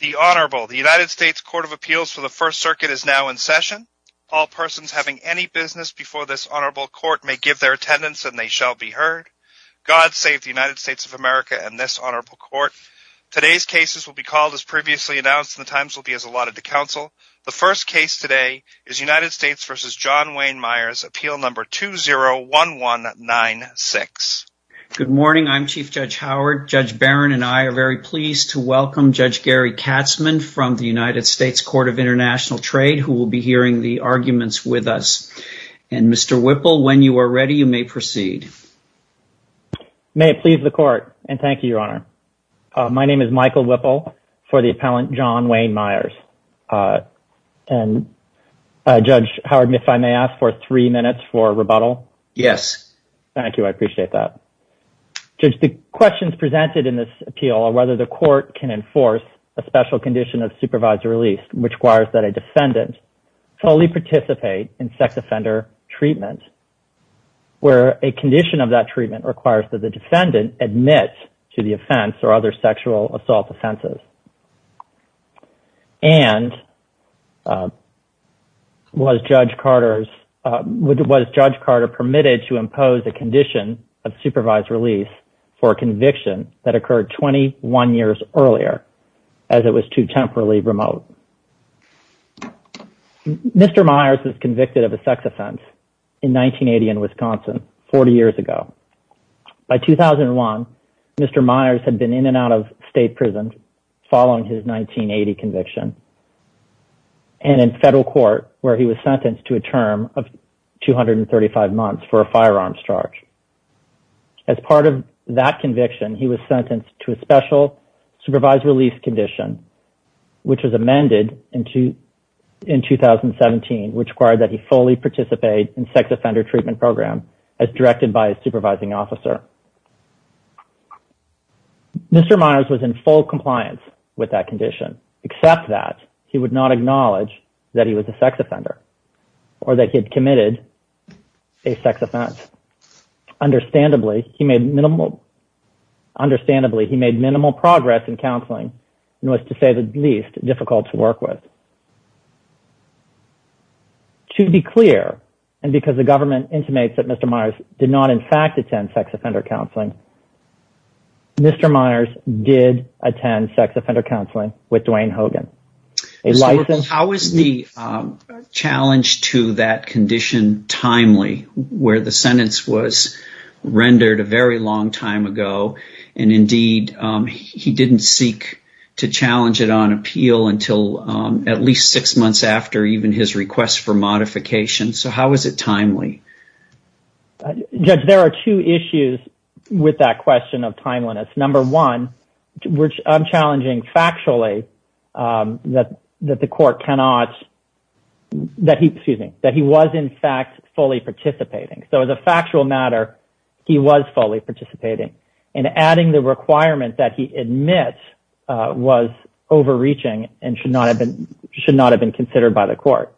The United States Court of Appeals for the First Circuit is now in session. All persons having any business before this honorable court may give their attendance and they shall be heard. God save the United States of America and this honorable court. Today's cases will be called as previously announced and the times will be as allotted to counsel. The first case today is United States v. John Wayne Myers, Appeal No. 201196. Good morning. I'm Chief Judge Howard. Judge Barron and I are very pleased to welcome Judge Gary Katzmann from the United States Court of International Trade who will be hearing the arguments with us. And Mr. Whipple, when you are ready, you may proceed. May it please the court and thank you, Your Honor. My name is Michael Whipple for the appellant John Wayne Myers. And Judge Howard, if I may ask for three minutes for rebuttal? Yes. Thank you. I appreciate that. Judge, the questions presented in this appeal are whether the court can enforce a special condition of supervisor release, which requires that a defendant fully participate in sex offender treatment, where a condition of that treatment requires that the defendant admit to the offense or other sexual assault offenses. And was Judge Carter permitted to impose a condition of supervised release for a conviction that occurred 21 years earlier as it was too temporarily remote? Mr. Myers was convicted of a sex offense in 1980 in Wisconsin 40 years ago. By 2001, Mr. Myers had been in and out of state prison following his 1980 conviction and in federal court where he was sentenced to a term of 235 months for a firearms charge. As part of that conviction, he was sentenced to a special supervised release condition, which was amended in 2017, which required that he fully participate in sex offender treatment program as directed by a supervising officer. Mr. Myers was in full compliance with that condition, except that he would not acknowledge that he was a sex offender or that he had committed a sex offense. Understandably, he made minimal progress in counseling and was, to say the least, difficult to work with. To be clear, and because the government intimates that Mr. Myers did not in fact attend sex offender counseling, Mr. Myers did attend sex offender counseling with Duane Hogan. How is the challenge to that condition timely, where the sentence was rendered a very long time ago and, indeed, he didn't seek to challenge it on appeal until at least six months after even his request for modification? How is it timely? Judge, there are two issues with that question of timeliness. Number one, I'm challenging factually that he was, in fact, fully participating. So as a factual matter, he was fully participating. And adding the requirement that he admits was overreaching and should not have been considered by the court.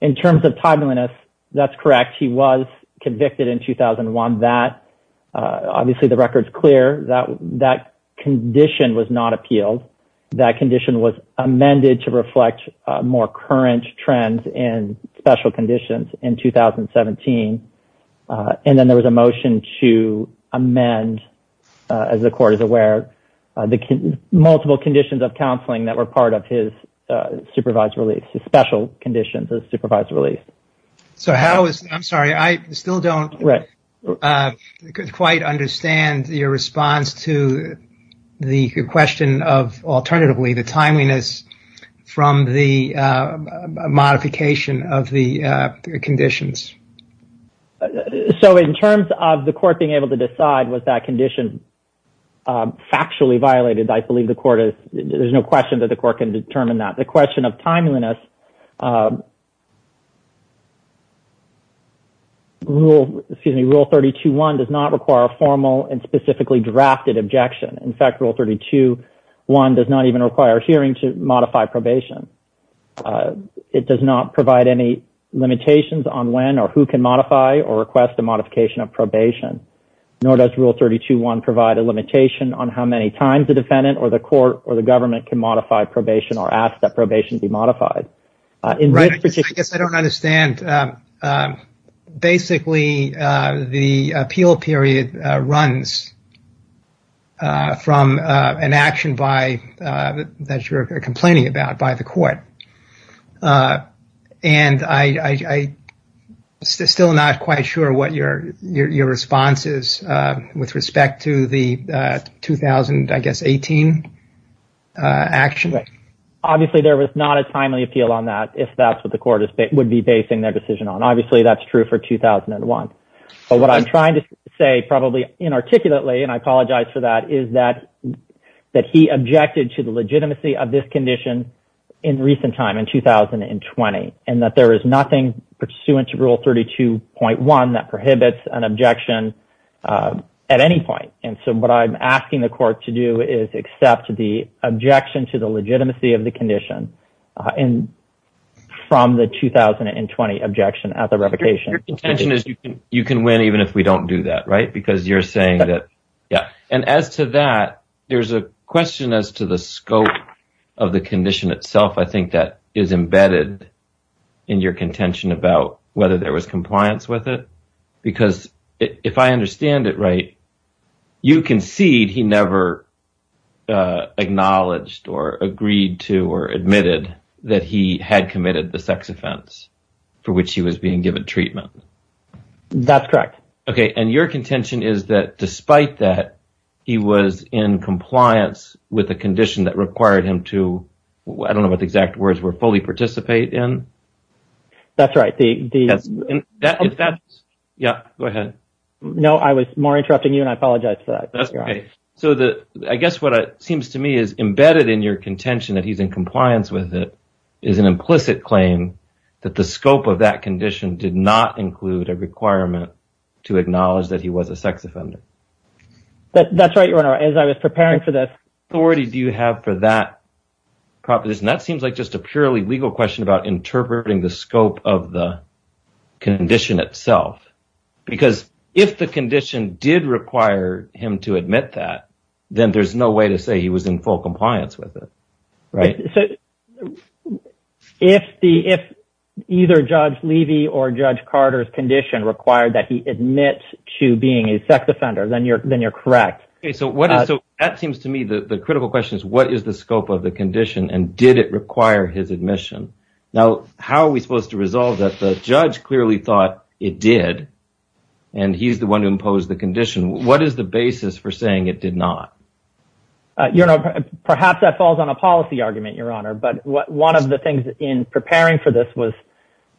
In terms of timeliness, that's correct. He was convicted in 2001. Obviously, the record's clear. That condition was not appealed. That condition was amended to reflect more current trends and special conditions in 2017. And then there was a motion to amend, as the court is aware, the multiple conditions of counseling that were part of his supervised release, his special conditions of supervised release. I'm sorry. I still don't quite understand your response to the question of, alternatively, the timeliness from the modification of the conditions. So in terms of the court being able to decide was that condition factually violated, I believe the court is, there's no question that the court can determine that. The question of timeliness, Rule 32.1 does not require a formal and specifically drafted objection. In fact, Rule 32.1 does not even require a hearing to modify probation. It does not provide any limitations on when or who can modify or request a modification of probation. Nor does Rule 32.1 provide a limitation on how many times the defendant or the court or the government can modify probation or ask that probation be modified. I guess I don't understand. Basically, the appeal period runs from an action by that you're complaining about by the court. And I still not quite sure what your response is with respect to the 2000, I guess, 18 action. Obviously, there was not a timely appeal on that if that's what the court would be basing their decision on. Obviously, that's true for 2001. But what I'm trying to say, probably inarticulately, and I apologize for that, is that that he objected to the legitimacy of this condition in recent time in 2020 and that there is nothing pursuant to Rule 32.1 that prohibits an objection at any point. And so what I'm asking the court to do is accept the objection to the legitimacy of the condition and from the 2020 objection at the revocation. Your contention is you can win even if we don't do that, right? Because you're saying that. Yeah. And as to that, there's a question as to the scope of the condition itself. I think that is embedded in your contention about whether there was compliance with it, because if I understand it right, you concede he never acknowledged or agreed to or admitted that he had committed the sex offense for which he was being given treatment. That's correct. Okay. And your contention is that despite that, he was in compliance with the condition that required him to, I don't know what the exact words were, fully participate in. That's right. Yeah, go ahead. No, I was more interrupting you and I apologize for that. So I guess what it seems to me is embedded in your contention that he's in compliance with it is an implicit claim that the scope of that condition did not include a requirement to acknowledge that he was a sex offender. That's right. As I was preparing for this. Do you have for that proposition? That seems like just a purely legal question about interpreting the scope of the condition itself, because if the condition did require him to admit that, then there's no way to say he was in full compliance with it. Right. So if the if either Judge Levy or Judge Carter's condition required that he admits to being a sex offender, then you're then you're correct. So what is so that seems to me that the critical question is, what is the scope of the condition and did it require his admission? Now, how are we supposed to resolve that? The judge clearly thought it did. And he's the one who imposed the condition. What is the basis for saying it did not? You know, perhaps that falls on a policy argument, Your Honor. But one of the things in preparing for this was,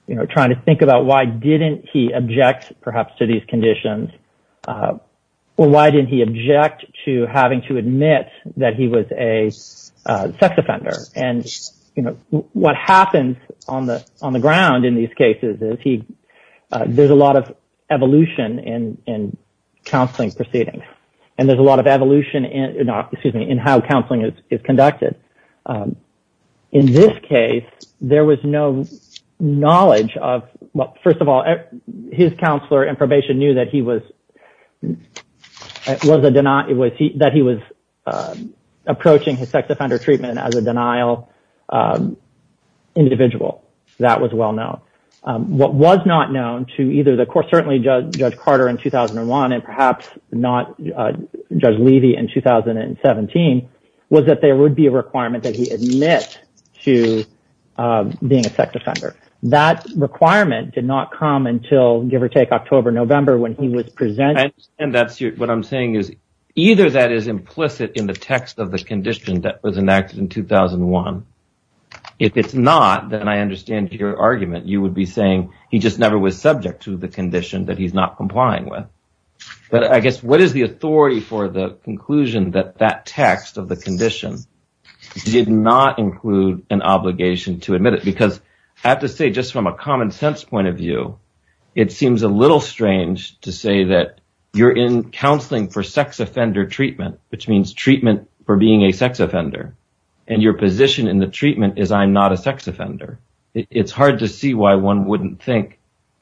you know, trying to think about why didn't he object perhaps to these conditions or why didn't he object to having to admit that he was a sex offender? And, you know, what happens on the on the ground in these cases is he there's a lot of evolution in in counseling proceedings and there's a lot of evolution in, excuse me, in how counseling is conducted. In this case, there was no knowledge of, well, first of all, his counselor in probation knew that he was that he was approaching his sex offender treatment as a denial individual. That was well known. What was not known to either the court, certainly Judge Carter in 2001 and perhaps not Judge Levy in 2017, was that there would be a requirement that he admits to being a sex offender. That requirement did not come until, give or take, October, November, when he was presented. And that's what I'm saying is either that is implicit in the text of the condition that was enacted in 2001. If it's not, then I understand your argument. You would be saying he just never was subject to the condition that he's not complying with. But I guess what is the authority for the conclusion that that text of the condition did not include an obligation to admit it? Because I have to say just from a common sense point of view, it seems a little strange to say that you're in counseling for sex offender treatment, which means treatment for being a sex offender. And your position in the treatment is I'm not a sex offender. It's hard to see why one wouldn't think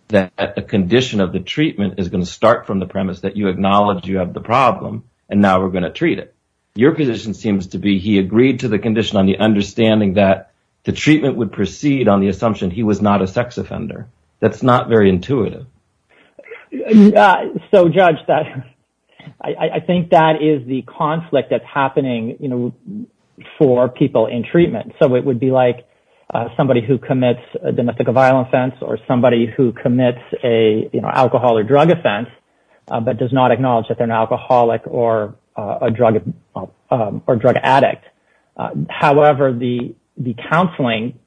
that the condition of the treatment is going to start from the premise that you acknowledge you have the problem and now we're going to treat it. Your position seems to be he agreed to the condition on the understanding that the treatment would proceed on the assumption he was not a sex offender. That's not very intuitive. So, Judge, that I think that is the conflict that's happening, you know, for people in treatment. So it would be like somebody who commits a domestic violence offense or somebody who commits a alcohol or drug offense, but does not acknowledge that they're an alcoholic or a drug or drug addict. However, the counseling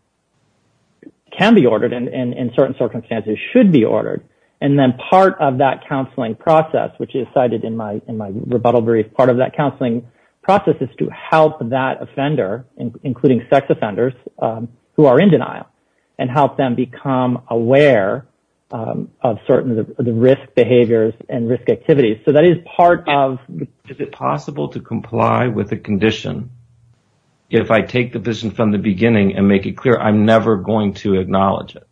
can be ordered and in certain circumstances should be ordered. And then part of that counseling process, which is cited in my rebuttal brief, part of that counseling process is to help that offender, including sex offenders who are in denial, and help them become aware of certain risk behaviors and risk activities. So that is part of. Is it possible to comply with the condition if I take the vision from the beginning and make it clear I'm never going to acknowledge it?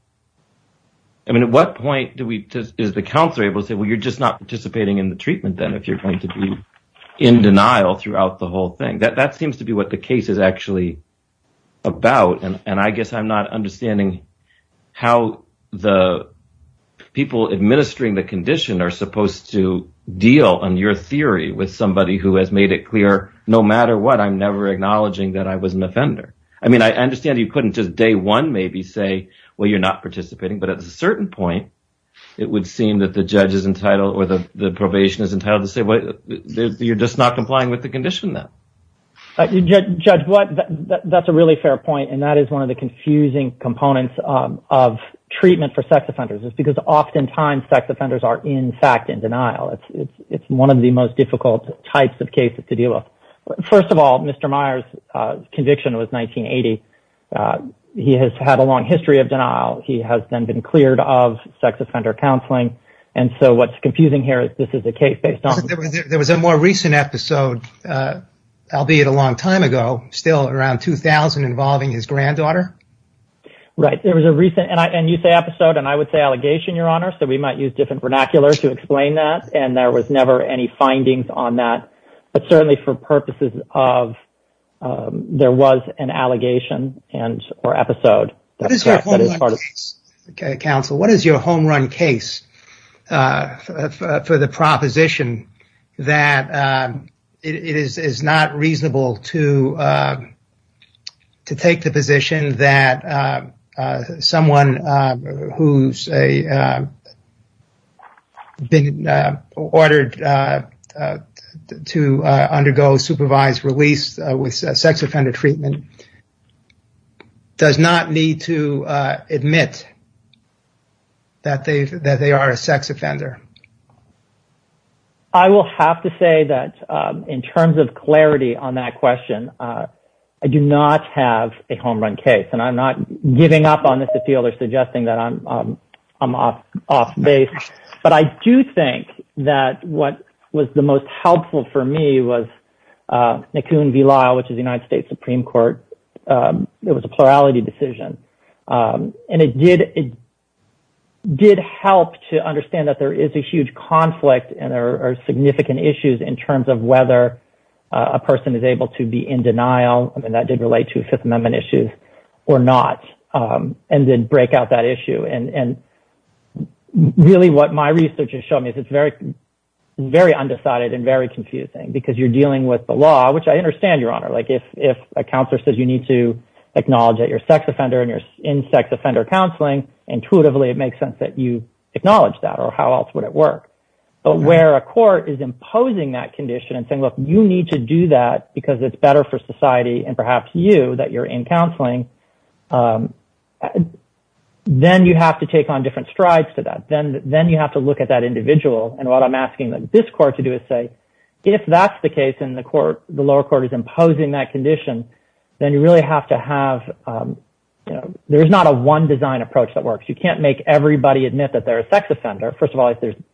I mean, at what point do we is the counselor able to say, well, you're just not participating in the treatment, then, if you're going to be in denial throughout the whole thing? That seems to be what the case is actually about. And I guess I'm not understanding how the people administering the condition are supposed to deal on your theory with somebody who has made it clear no matter what, I'm never acknowledging that I was an offender. I mean, I understand you couldn't just day one maybe say, well, you're not participating. But at a certain point, it would seem that the judge is entitled or the probation is entitled to say, well, you're just not complying with the condition, then. Judge, that's a really fair point. And that is one of the confusing components of treatment for sex offenders is because oftentimes sex offenders are, in fact, in denial. It's one of the most difficult types of cases to deal with. First of all, Mr. Myers' conviction was 1980. He has had a long history of denial. He has then been cleared of sex offender counseling. And so what's confusing here is this is a case based on. There was a more recent episode, albeit a long time ago, still around 2000, involving his granddaughter. Right. There was a recent and you say episode and I would say allegation, Your Honor. So we might use different vernacular to explain that. And there was never any findings on that. But certainly for purposes of there was an allegation and or episode. That is part of counsel. What is your home run case for the proposition that it is not reasonable to to take the position that someone who's a. Ordered to undergo supervised release with sex offender treatment. Does not need to admit. That they that they are a sex offender. I will have to say that in terms of clarity on that question, I do not have a home run case and I'm not giving up on this. I don't feel they're suggesting that I'm I'm off off base. But I do think that what was the most helpful for me was Nikun V. Lyle, which is the United States Supreme Court. It was a plurality decision and it did. It did help to understand that there is a huge conflict and there are significant issues in terms of whether a person is able to be in denial. And that did relate to Fifth Amendment issues or not. And then break out that issue. And really what my research has shown me is it's very, very undecided and very confusing because you're dealing with the law, which I understand, Your Honor. Like if if a counselor says you need to acknowledge that your sex offender and you're in sex offender counseling intuitively, it makes sense that you acknowledge that. Or how else would it work? But where a court is imposing that condition and saying, look, you need to do that because it's better for society and perhaps you that you're in counseling. Then you have to take on different strides to that. Then then you have to look at that individual. And what I'm asking this court to do is say, if that's the case in the court, the lower court is imposing that condition. Then you really have to have. There is not a one design approach that works. You can't make everybody admit that they're a sex offender. First of all, I think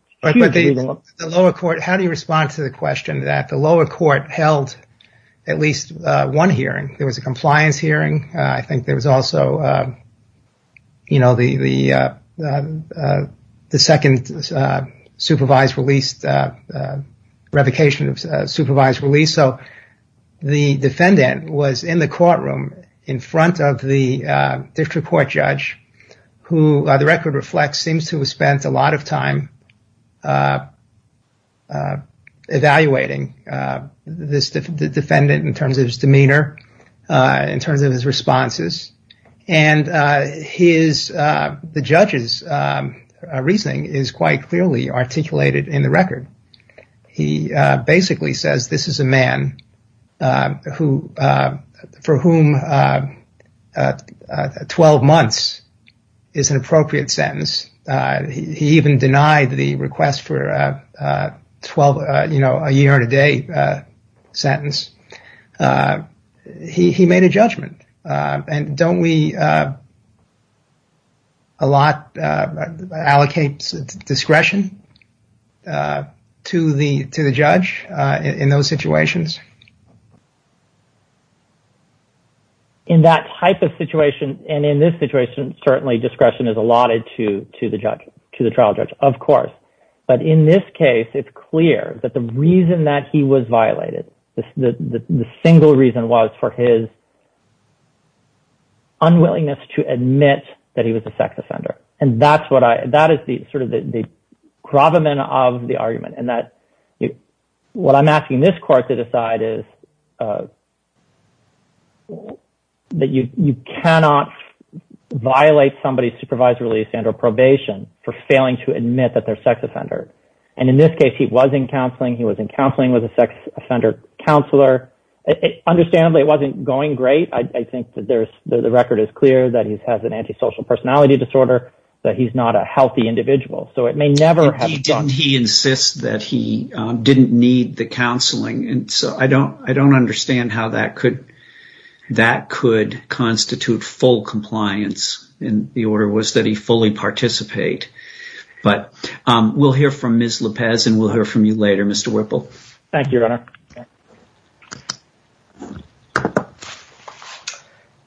the lower court. How do you respond to the question that the lower court held at least one hearing? There was a compliance hearing. I think there was also, you know, the the the second supervised released revocation of supervised release. So the defendant was in the courtroom in front of the district court judge who the record reflects seems to have spent a lot of time. Evaluating this defendant in terms of his demeanor, in terms of his responses and his the judge's reasoning is quite clearly articulated in the record. He basically says this is a man who for whom 12 months is an appropriate sentence. He even denied the request for 12, you know, a year and a day sentence. He made a judgment. And don't we. A lot allocates discretion to the to the judge in those situations. In that type of situation and in this situation, certainly discretion is allotted to to the judge, to the trial judge, of course. But in this case, it's clear that the reason that he was violated, the single reason was for his. Unwillingness to admit that he was a sex offender. And that's what I that is the sort of the problem of the argument and that what I'm asking this court to decide is. That you cannot violate somebody's supervisory release and or probation for failing to admit that they're sex offender. And in this case, he was in counseling. He was in counseling with a sex offender counselor. Understandably, it wasn't going great. I think that there's the record is clear that he has an antisocial personality disorder, that he's not a healthy individual. So it may never have he insists that he didn't need the counseling. And so I don't I don't understand how that could that could constitute full compliance in the order was that he fully participate. But we'll hear from Ms. Lopez and we'll hear from you later, Mr. Whipple. Thank you.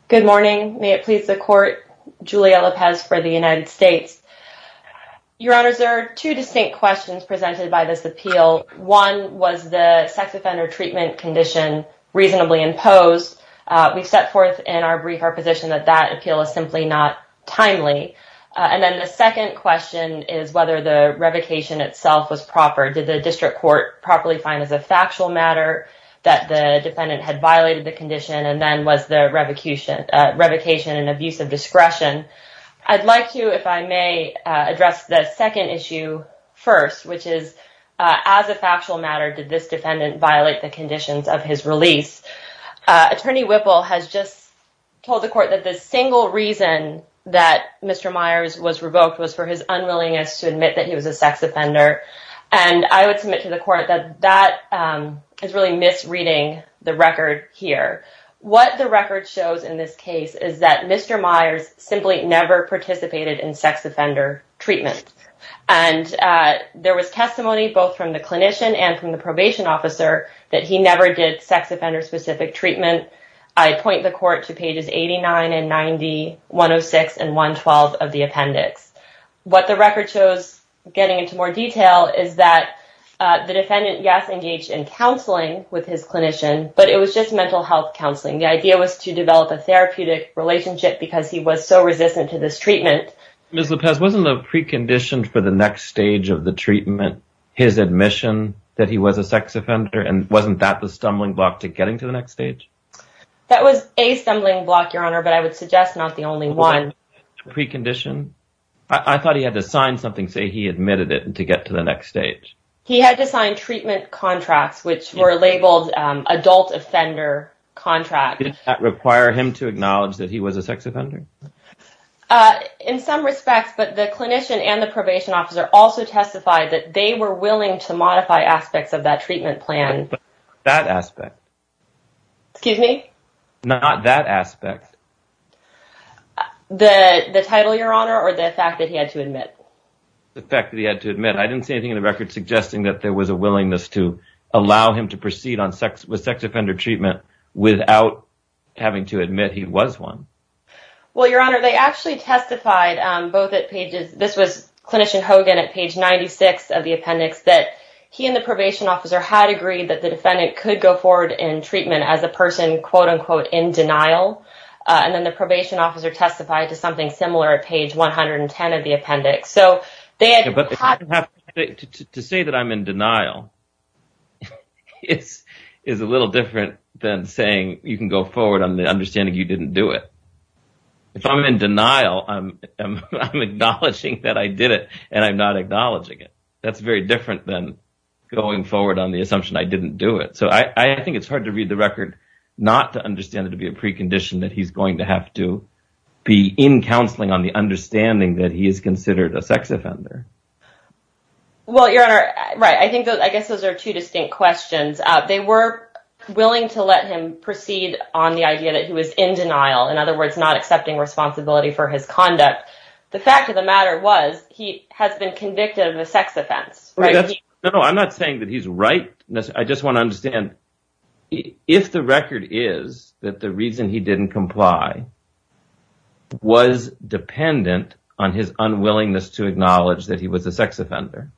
Good morning. May it please the court. Julia Lopez for the United States. Your honor, there are two distinct questions presented by this appeal. One was the sex offender treatment condition reasonably imposed. We've set forth in our brief our position that that appeal is simply not timely. And then the second question is whether the revocation itself was proper. Did the district court properly find as a factual matter that the defendant had violated the condition and then was the revocation revocation and abuse of discretion? I'd like to if I may address the second issue first, which is as a factual matter, did this defendant violate the conditions of his release? Attorney Whipple has just told the court that the single reason that Mr. Myers was revoked was for his unwillingness to admit that he was a sex offender. And I would submit to the court that that is really misreading the record here. What the record shows in this case is that Mr. Myers simply never participated in sex offender treatment. And there was testimony both from the clinician and from the probation officer that he never did sex offender specific treatment. I point the court to pages eighty nine and ninety one of six and one twelve of the appendix. What the record shows getting into more detail is that the defendant, yes, engaged in counseling with his clinician, but it was just mental health counseling. The idea was to develop a therapeutic relationship because he was so resistant to this treatment. Ms. Lopez, wasn't the precondition for the next stage of the treatment his admission that he was a sex offender? And wasn't that the stumbling block to getting to the next stage? But I would suggest not the only one precondition. I thought he had to sign something, say he admitted it to get to the next stage. He had to sign treatment contracts which were labeled adult offender contract that require him to acknowledge that he was a sex offender in some respects. But the clinician and the probation officer also testified that they were willing to modify aspects of that treatment plan. But that aspect, excuse me, not that aspect, the title, your honor, or the fact that he had to admit the fact that he had to admit, I didn't see anything in the record suggesting that there was a willingness to allow him to proceed on sex with sex offender treatment without having to admit he was one. Well, your honor, they actually testified both at pages. This was clinician Hogan at page 96 of the appendix that he and the probation officer had agreed that the defendant could go forward in treatment as a person, quote, unquote, in denial. And then the probation officer testified to something similar at page 110 of the appendix. So they had to say that I'm in denial. It's is a little different than saying you can go forward on the understanding you didn't do it. If I'm in denial, I'm acknowledging that I did it and I'm not acknowledging it. That's very different than going forward on the assumption I didn't do it. So I think it's hard to read the record not to understand it to be a precondition that he's going to have to be in counseling on the understanding that he is considered a sex offender. Well, your honor. Right. I think I guess those are two distinct questions. They were willing to let him proceed on the idea that he was in denial, in other words, not accepting responsibility for his conduct. The fact of the matter was he has been convicted of a sex offense. No, I'm not saying that he's right. I just want to understand if the record is that the reason he didn't comply. Was dependent on his unwillingness to acknowledge that he was a sex offender.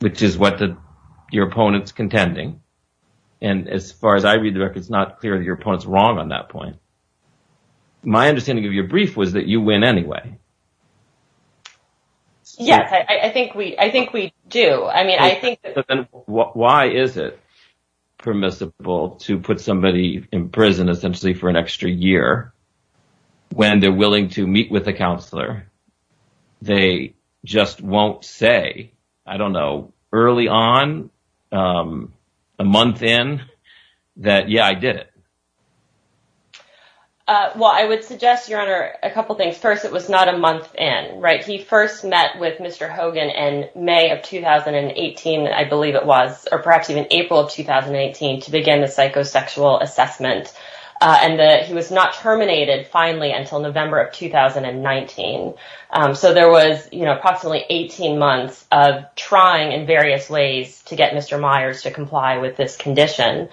Which is what your opponent's contending. And as far as I read, it's not clear that your opponent's wrong on that point. My understanding of your brief was that you win anyway. Yes, I think we I think we do. I mean, I think. Why is it permissible to put somebody in prison essentially for an extra year when they're willing to meet with a counselor? They just won't say, I don't know, early on a month in that. Yeah, I did. Well, I would suggest, your honor, a couple of things. First, it was not a month. And right. He first met with Mr. Hogan in May of 2018. I believe it was or perhaps even April of 2018 to begin the psychosexual assessment. And he was not terminated finally until November of 2019. So there was approximately 18 months of trying in various ways to get Mr. Myers to comply with this condition.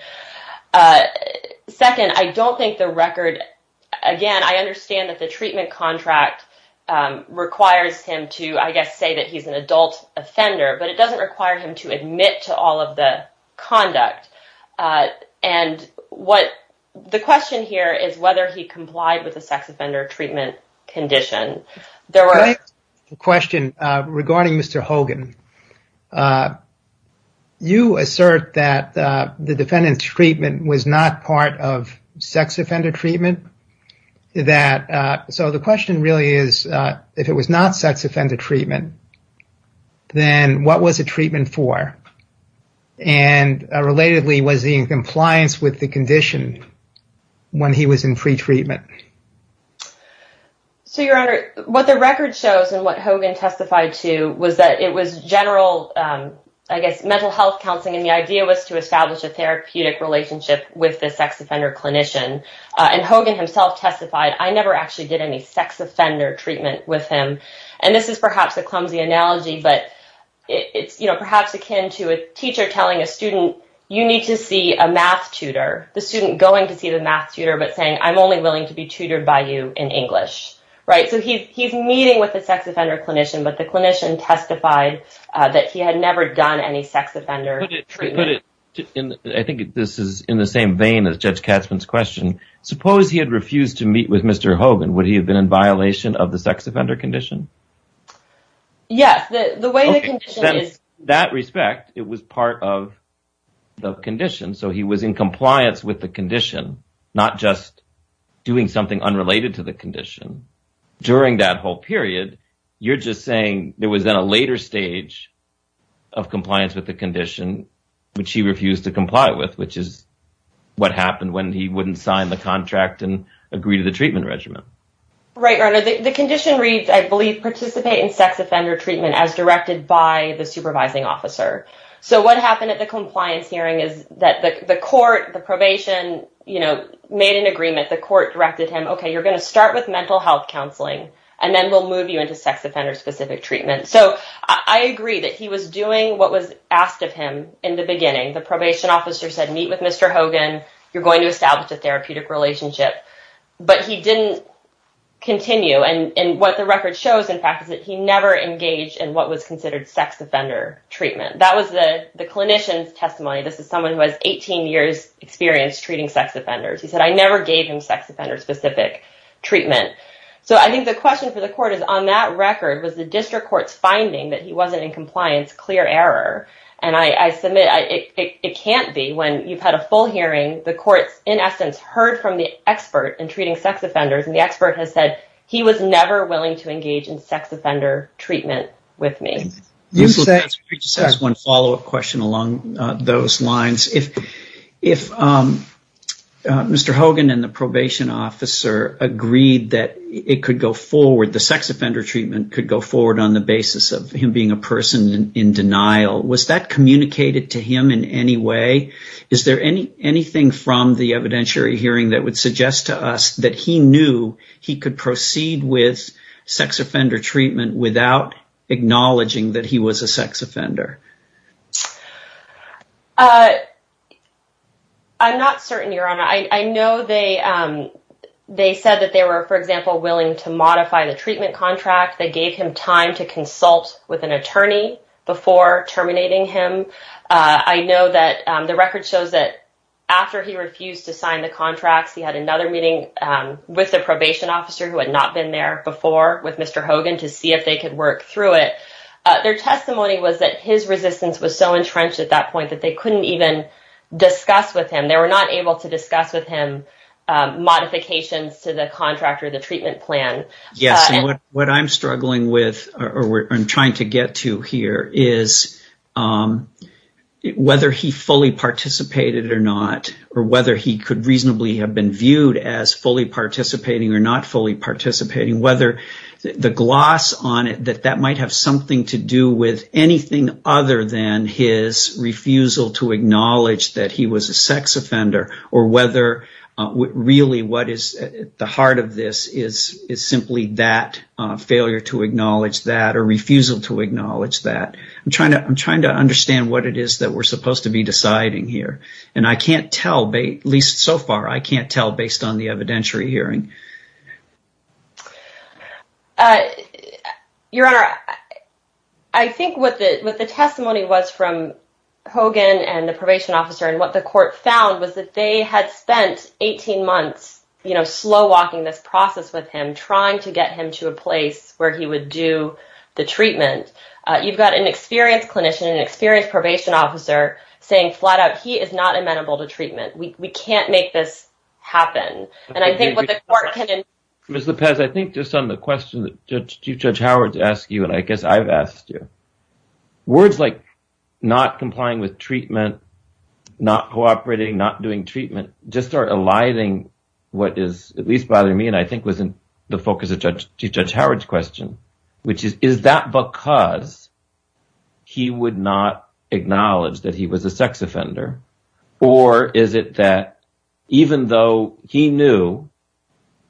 Second, I don't think the record. Again, I understand that the treatment contract requires him to, I guess, say that he's an adult offender. But it doesn't require him to admit to all of the conduct. And what the question here is whether he complied with the sex offender treatment condition. The question regarding Mr. Hogan, you assert that the defendant's treatment was not part of sex offender treatment that. So the question really is, if it was not sex offender treatment, then what was the treatment for? And relatedly, was he in compliance with the condition when he was in free treatment? So, Your Honor, what the record shows and what Hogan testified to was that it was general, I guess, mental health counseling. And the idea was to establish a therapeutic relationship with the sex offender clinician. And Hogan himself testified, I never actually did any sex offender treatment with him. And this is perhaps a clumsy analogy, but it's perhaps akin to a teacher telling a student, you need to see a math tutor. The student going to see the math tutor, but saying, I'm only willing to be tutored by you in English. Right. So he's meeting with the sex offender clinician. But the clinician testified that he had never done any sex offender treatment. I think this is in the same vein as Judge Katzmann's question. Suppose he had refused to meet with Mr. Hogan. Would he have been in violation of the sex offender condition? Yes, the way that that respect, it was part of the condition. So he was in compliance with the condition, not just doing something unrelated to the condition during that whole period. You're just saying there was a later stage of compliance with the condition, which he refused to comply with, which is what happened when he wouldn't sign the contract and agree to the treatment regimen. Right. The condition reads, I believe, participate in sex offender treatment as directed by the supervising officer. So what happened at the compliance hearing is that the court, the probation, you know, made an agreement. The court directed him, OK, you're going to start with mental health counseling and then we'll move you into sex offender specific treatment. So I agree that he was doing what was asked of him in the beginning. The probation officer said, meet with Mr. Hogan. You're going to establish a therapeutic relationship. But he didn't continue. And what the record shows, in fact, is that he never engaged in what was considered sex offender treatment. That was the clinician's testimony. This is someone who has 18 years experience treating sex offenders. He said, I never gave him sex offender specific treatment. So I think the question for the court is, on that record, was the district court's finding that he wasn't in compliance clear error? And I submit it can't be when you've had a full hearing. The courts, in essence, heard from the expert in treating sex offenders. And the expert has said he was never willing to engage in sex offender treatment with me. That's one follow up question along those lines. If if Mr. Hogan and the probation officer agreed that it could go forward, the sex offender treatment could go forward on the basis of him being a person in denial. Was that communicated to him in any way? Is there any anything from the evidentiary hearing that would suggest to us that he knew he could proceed with sex offender treatment without acknowledging that he was a sex offender? I'm not certain your honor. I know they they said that they were, for example, willing to modify the treatment contract. They gave him time to consult with an attorney before terminating him. I know that the record shows that after he refused to sign the contracts, he had another meeting with the probation officer who had not been there before with Mr. Hogan to see if they could work through it. Their testimony was that his resistance was so entrenched at that point that they couldn't even discuss with him. They were not able to discuss with him modifications to the contract or the treatment plan. Yes. And what I'm struggling with or I'm trying to get to here is whether he fully participated or not, or whether he could reasonably have been viewed as fully participating or not fully participating, whether the gloss on it that that might have something to do with anything other than his refusal to acknowledge that he was a sex offender, or whether really what is at the heart of this is is simply that failure to acknowledge that or refusal to acknowledge that. I'm trying to I'm trying to understand what it is that we're supposed to be deciding here. And I can't tell, at least so far, I can't tell based on the evidentiary hearing. Your Honor, I think what the testimony was from Hogan and the probation officer and what the court found was that they had spent 18 months, you know, slow walking this process with him, trying to get him to a place where he would do the treatment. You've got an experienced clinician, an experienced probation officer saying flat out he is not amenable to treatment. We can't make this happen. And I think what the court can. Ms. Lopez, I think just on the question that Chief Judge Howard to ask you, and I guess I've asked you words like not complying with treatment, not cooperating, not doing treatment, just are aligning what is at least bothering me. And I think was in the focus of Judge Howard's question, which is, is that because he would not acknowledge that he was a sex offender? Or is it that even though he knew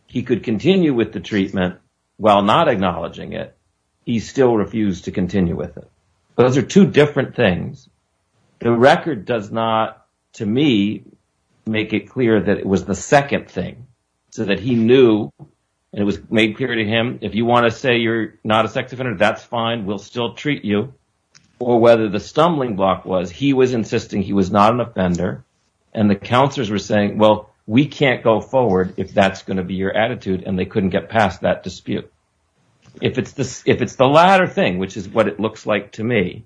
he could continue with the treatment while not acknowledging it, he still refused to continue with it? Those are two different things. The record does not, to me, make it clear that it was the second thing so that he knew it was made clear to him. If you want to say you're not a sex offender, that's fine. We'll still treat you. Or whether the stumbling block was he was insisting he was not an offender and the counselors were saying, well, we can't go forward if that's going to be your attitude and they couldn't get past that dispute. If it's this if it's the latter thing, which is what it looks like to me,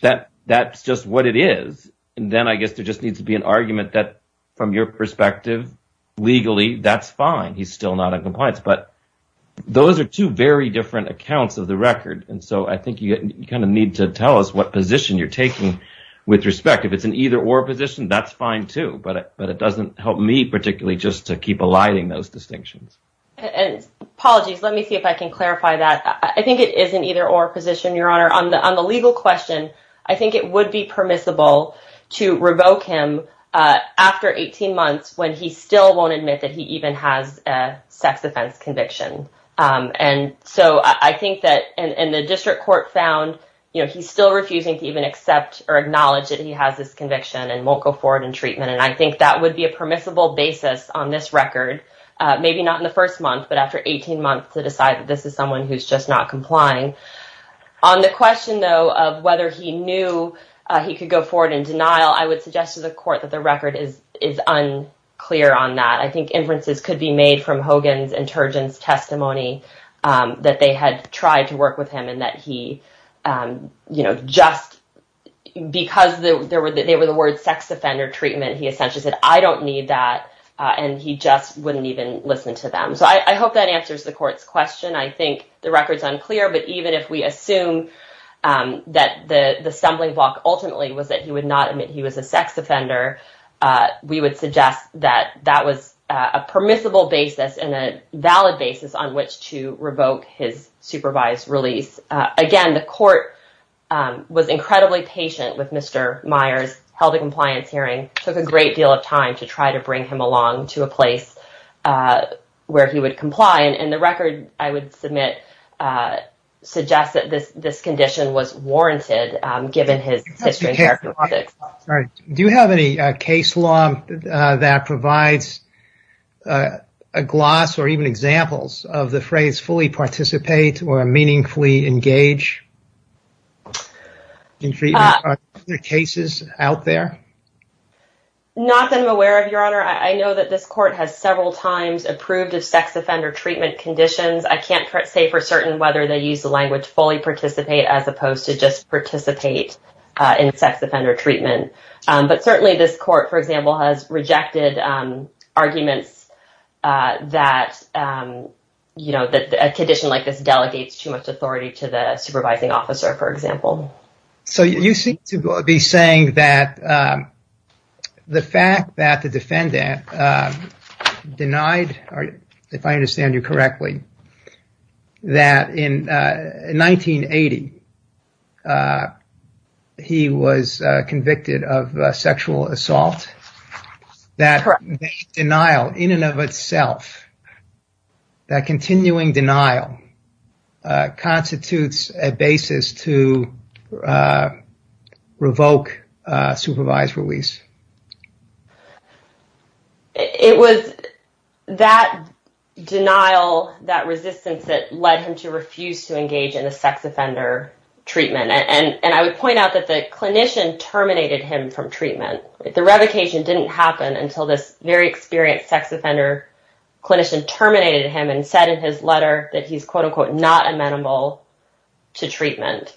that that's just what it is. And then I guess there just needs to be an argument that from your perspective, legally, that's fine. He's still not a compliance, but those are two very different accounts of the record. And so I think you kind of need to tell us what position you're taking with respect. If it's an either or position, that's fine, too. But but it doesn't help me particularly just to keep aligning those distinctions. And apologies. Let me see if I can clarify that. I think it is an either or position, Your Honor, on the on the legal question. I think it would be permissible to revoke him after 18 months when he still won't admit that he even has a sex offense conviction. And so I think that in the district court found, you know, he's still refusing to even accept or acknowledge that he has this conviction and won't go forward in treatment. And I think that would be a permissible basis on this record. Maybe not in the first month, but after 18 months to decide that this is someone who's just not complying on the question, though, of whether he knew he could go forward in denial, I would suggest to the court that the record is is unclear on that. I think inferences could be made from Hogan's and Turgeon's testimony that they had tried to work with him and that he, you know, just because there were that they were the word sex offender treatment. He essentially said, I don't need that. And he just wouldn't even listen to them. So I hope that answers the court's question. I think the record's unclear. But even if we assume that the stumbling block ultimately was that he would not admit he was a sex offender, we would suggest that that was a permissible basis and a valid basis on which to revoke his supervised release. Again, the court was incredibly patient with Mr. Myers, held a compliance hearing, took a great deal of time to try to bring him along to a place where he would comply. And the record, I would submit, suggests that this condition was warranted given his characteristics. Do you have any case law that provides a gloss or even examples of the phrase fully participate or meaningfully engage? The cases out there. Not that I'm aware of, Your Honor. I know that this court has several times approved of sex offender treatment conditions. I can't say for certain whether they use the language fully participate as opposed to just participate in sex offender treatment. But certainly this court, for example, has rejected arguments that, you know, that a condition like this delegates too much authority to the supervising officer, for example. So you seem to be saying that the fact that the defendant denied, if I understand you correctly, that in 1980, he was convicted of sexual assault, that denial in and of itself. That continuing denial constitutes a basis to revoke supervised release. It was that denial, that resistance that led him to refuse to engage in a sex offender treatment. And I would point out that the clinician terminated him from treatment. The revocation didn't happen until this very experienced sex offender clinician terminated him and said in his letter that he's, quote unquote, not amenable to treatment.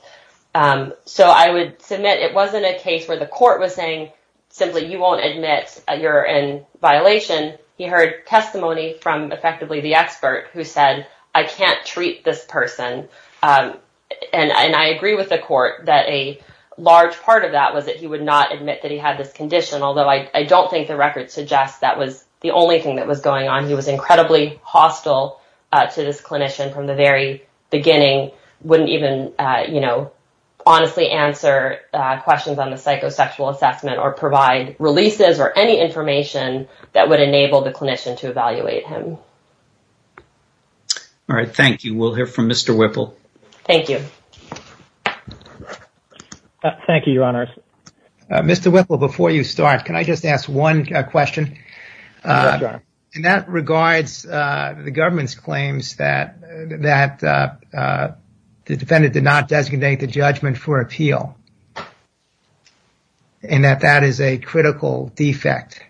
So I would submit it wasn't a case where the court was saying simply, you won't admit you're in violation. He heard testimony from effectively the expert who said, I can't treat this person. And I agree with the court that a large part of that was that he would not admit that he had this condition, although I don't think the record suggests that was the only thing that was going on. He was incredibly hostile to this clinician from the very beginning, wouldn't even, you know, honestly answer questions on the psychosexual assessment or provide releases or any information that would enable the clinician to evaluate him. All right. Thank you. We'll hear from Mr. Whipple. Thank you. Thank you, Your Honor. Mr. Whipple, before you start, can I just ask one question? And that regards the government's claims that that the defendant did not designate the judgment for appeal. And that that is a critical defect.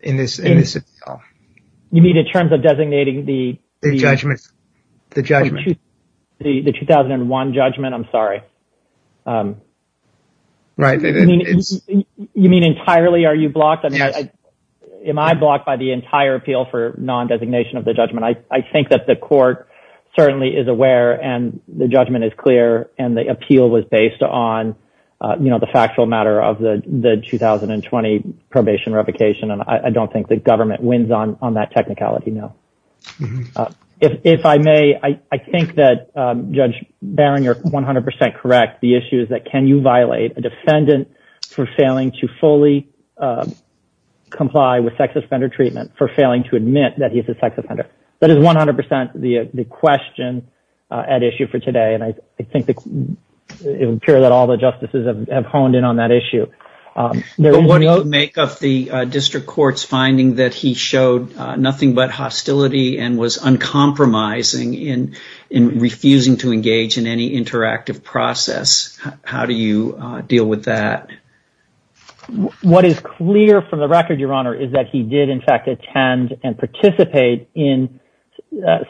In this. You mean in terms of designating the judgment, the judgment, the 2001 judgment? I'm sorry. Right. You mean entirely? Are you blocked? Am I blocked by the entire appeal for nondesignation of the judgment? I think that the court certainly is aware and the judgment is clear. And the appeal was based on the factual matter of the 2020 probation revocation. And I don't think the government wins on that technicality. No. If I may, I think that Judge Barron, you're 100 percent correct. The issue is that can you violate a defendant for failing to fully comply with sex offender treatment for failing to admit that he is a sex offender? That is 100 percent the question at issue for today. And I think it would appear that all the justices have honed in on that issue. What do you make of the district court's finding that he showed nothing but hostility and was uncompromising in refusing to engage in any interactive process? How do you deal with that? What is clear from the record, Your Honor, is that he did, in fact, attend and participate in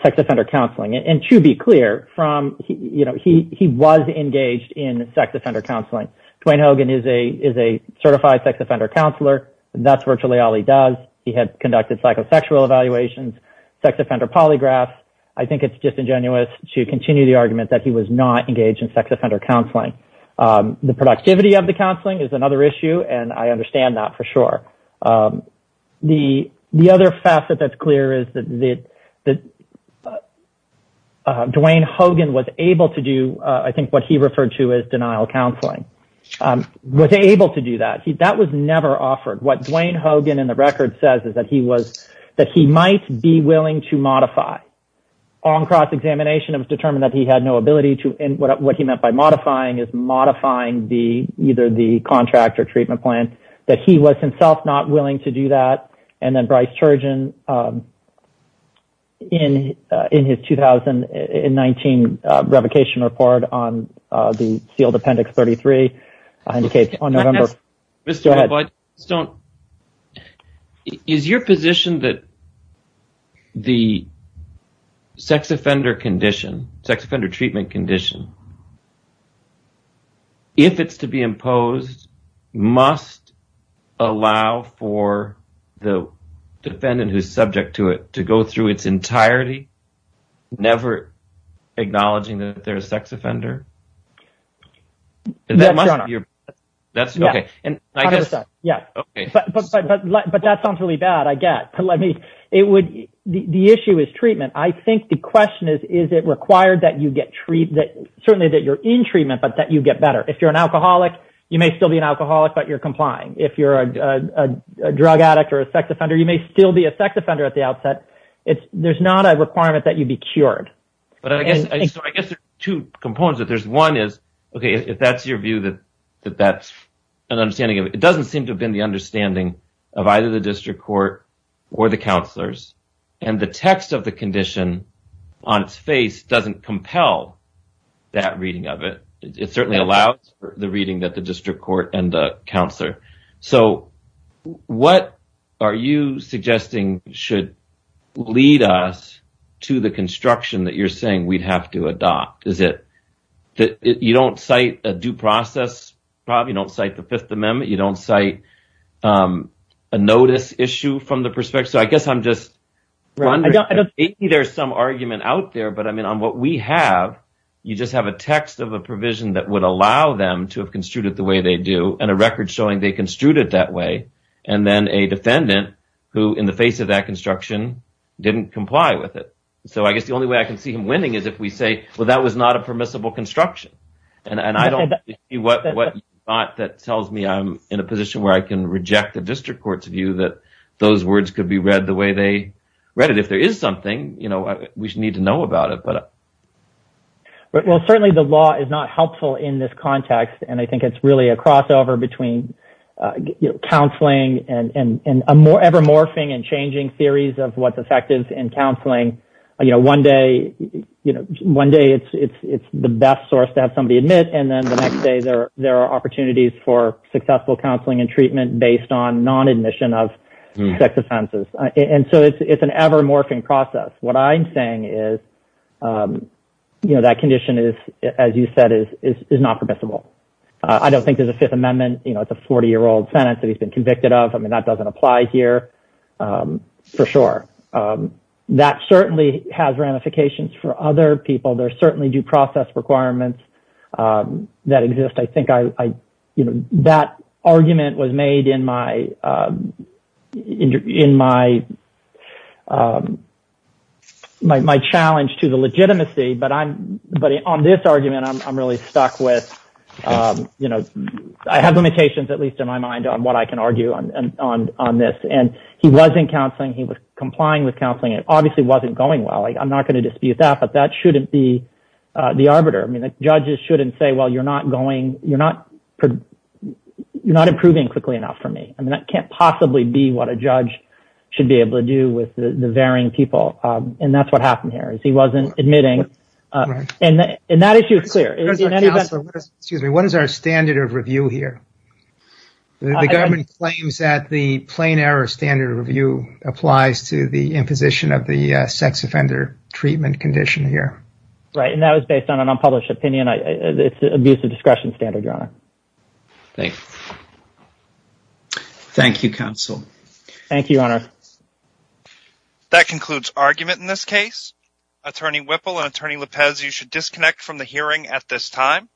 sex offender counseling. And to be clear from he was engaged in sex offender counseling. Dwayne Hogan is a is a certified sex offender counselor. That's virtually all he does. He had conducted psychosexual evaluations, sex offender polygraphs. I think it's disingenuous to continue the argument that he was not engaged in sex offender counseling. The productivity of the counseling is another issue. And I understand that for sure. The the other facet that's clear is that that Dwayne Hogan was able to do, I think what he referred to as denial counseling, was able to do that. That was never offered. What Dwayne Hogan in the record says is that he was that he might be willing to modify on cross examination of determined that he had no ability to. And what he meant by modifying is modifying the either the contract or treatment plan that he was himself not willing to do that. And then Bryce Turgeon in in his 2000 and 19 revocation report on the sealed Appendix 33 indicates on November. Mr. Stone, is your position that. The sex offender condition, sex offender treatment condition. If it's to be imposed, must allow for the defendant who's subject to it to go through its entirety, never acknowledging that there is sex offender. And that must be your that's OK. And I guess. Yeah. OK, but but but that sounds really bad. I get to let me it would. The issue is treatment. I think the question is, is it required that you get treated? Certainly that you're in treatment, but that you get better if you're an alcoholic. You may still be an alcoholic, but you're complying if you're a drug addict or a sex offender. You may still be a sex offender at the outset. It's there's not a requirement that you be cured. But I guess I guess two components that there's one is, OK, if that's your view, that that's an understanding. It doesn't seem to have been the understanding of either the district court or the counselors. And the text of the condition on its face doesn't compel that reading of it. It certainly allows the reading that the district court and the counselor. So what are you suggesting should lead us to the construction that you're saying we'd have to adopt? Is it that you don't cite a due process? Probably don't cite the Fifth Amendment. You don't cite a notice issue from the perspective. So I guess I'm just wondering if there's some argument out there. But I mean, on what we have, you just have a text of a provision that would allow them to have construed it the way they do. And a record showing they construed it that way. And then a defendant who in the face of that construction didn't comply with it. So I guess the only way I can see him winning is if we say, well, that was not a permissible construction. And I don't see what that tells me. I'm in a position where I can reject the district court's view that those words could be read the way they read it. If there is something, you know, we need to know about it. But. Well, certainly the law is not helpful in this context. And I think it's really a crossover between counseling and a more ever morphing and changing theories of what's effective in counseling. You know, one day, you know, one day it's it's it's the best source to have somebody admit. And then the next day there there are opportunities for successful counseling and treatment based on non admission of sex offenses. And so it's an ever morphing process. What I'm saying is, you know, that condition is, as you said, is is not permissible. I don't think there's a Fifth Amendment. You know, it's a 40 year old sentence that he's been convicted of. I mean, that doesn't apply here. For sure. That certainly has ramifications for other people. There's certainly due process requirements that exist. I think I you know, that argument was made in my in my my challenge to the legitimacy. But I'm but on this argument, I'm really stuck with, you know, I have limitations, at least in my mind on what I can argue on this. And he wasn't counseling. He was complying with counseling. It obviously wasn't going well. I'm not going to dispute that, but that shouldn't be the arbiter. I mean, the judges shouldn't say, well, you're not going you're not you're not improving quickly enough for me. I mean, that can't possibly be what a judge should be able to do with the varying people. And that's what happened here is he wasn't admitting. And that issue is clear. Excuse me. What is our standard of review here? The government claims that the plain error standard review applies to the imposition of the sex offender treatment condition here. Right. And that was based on an unpublished opinion. It's an abuse of discretion standard. Thank you, Honor. That concludes argument in this case. Attorney Whipple and Attorney Lopez, you should disconnect from the hearing at this time.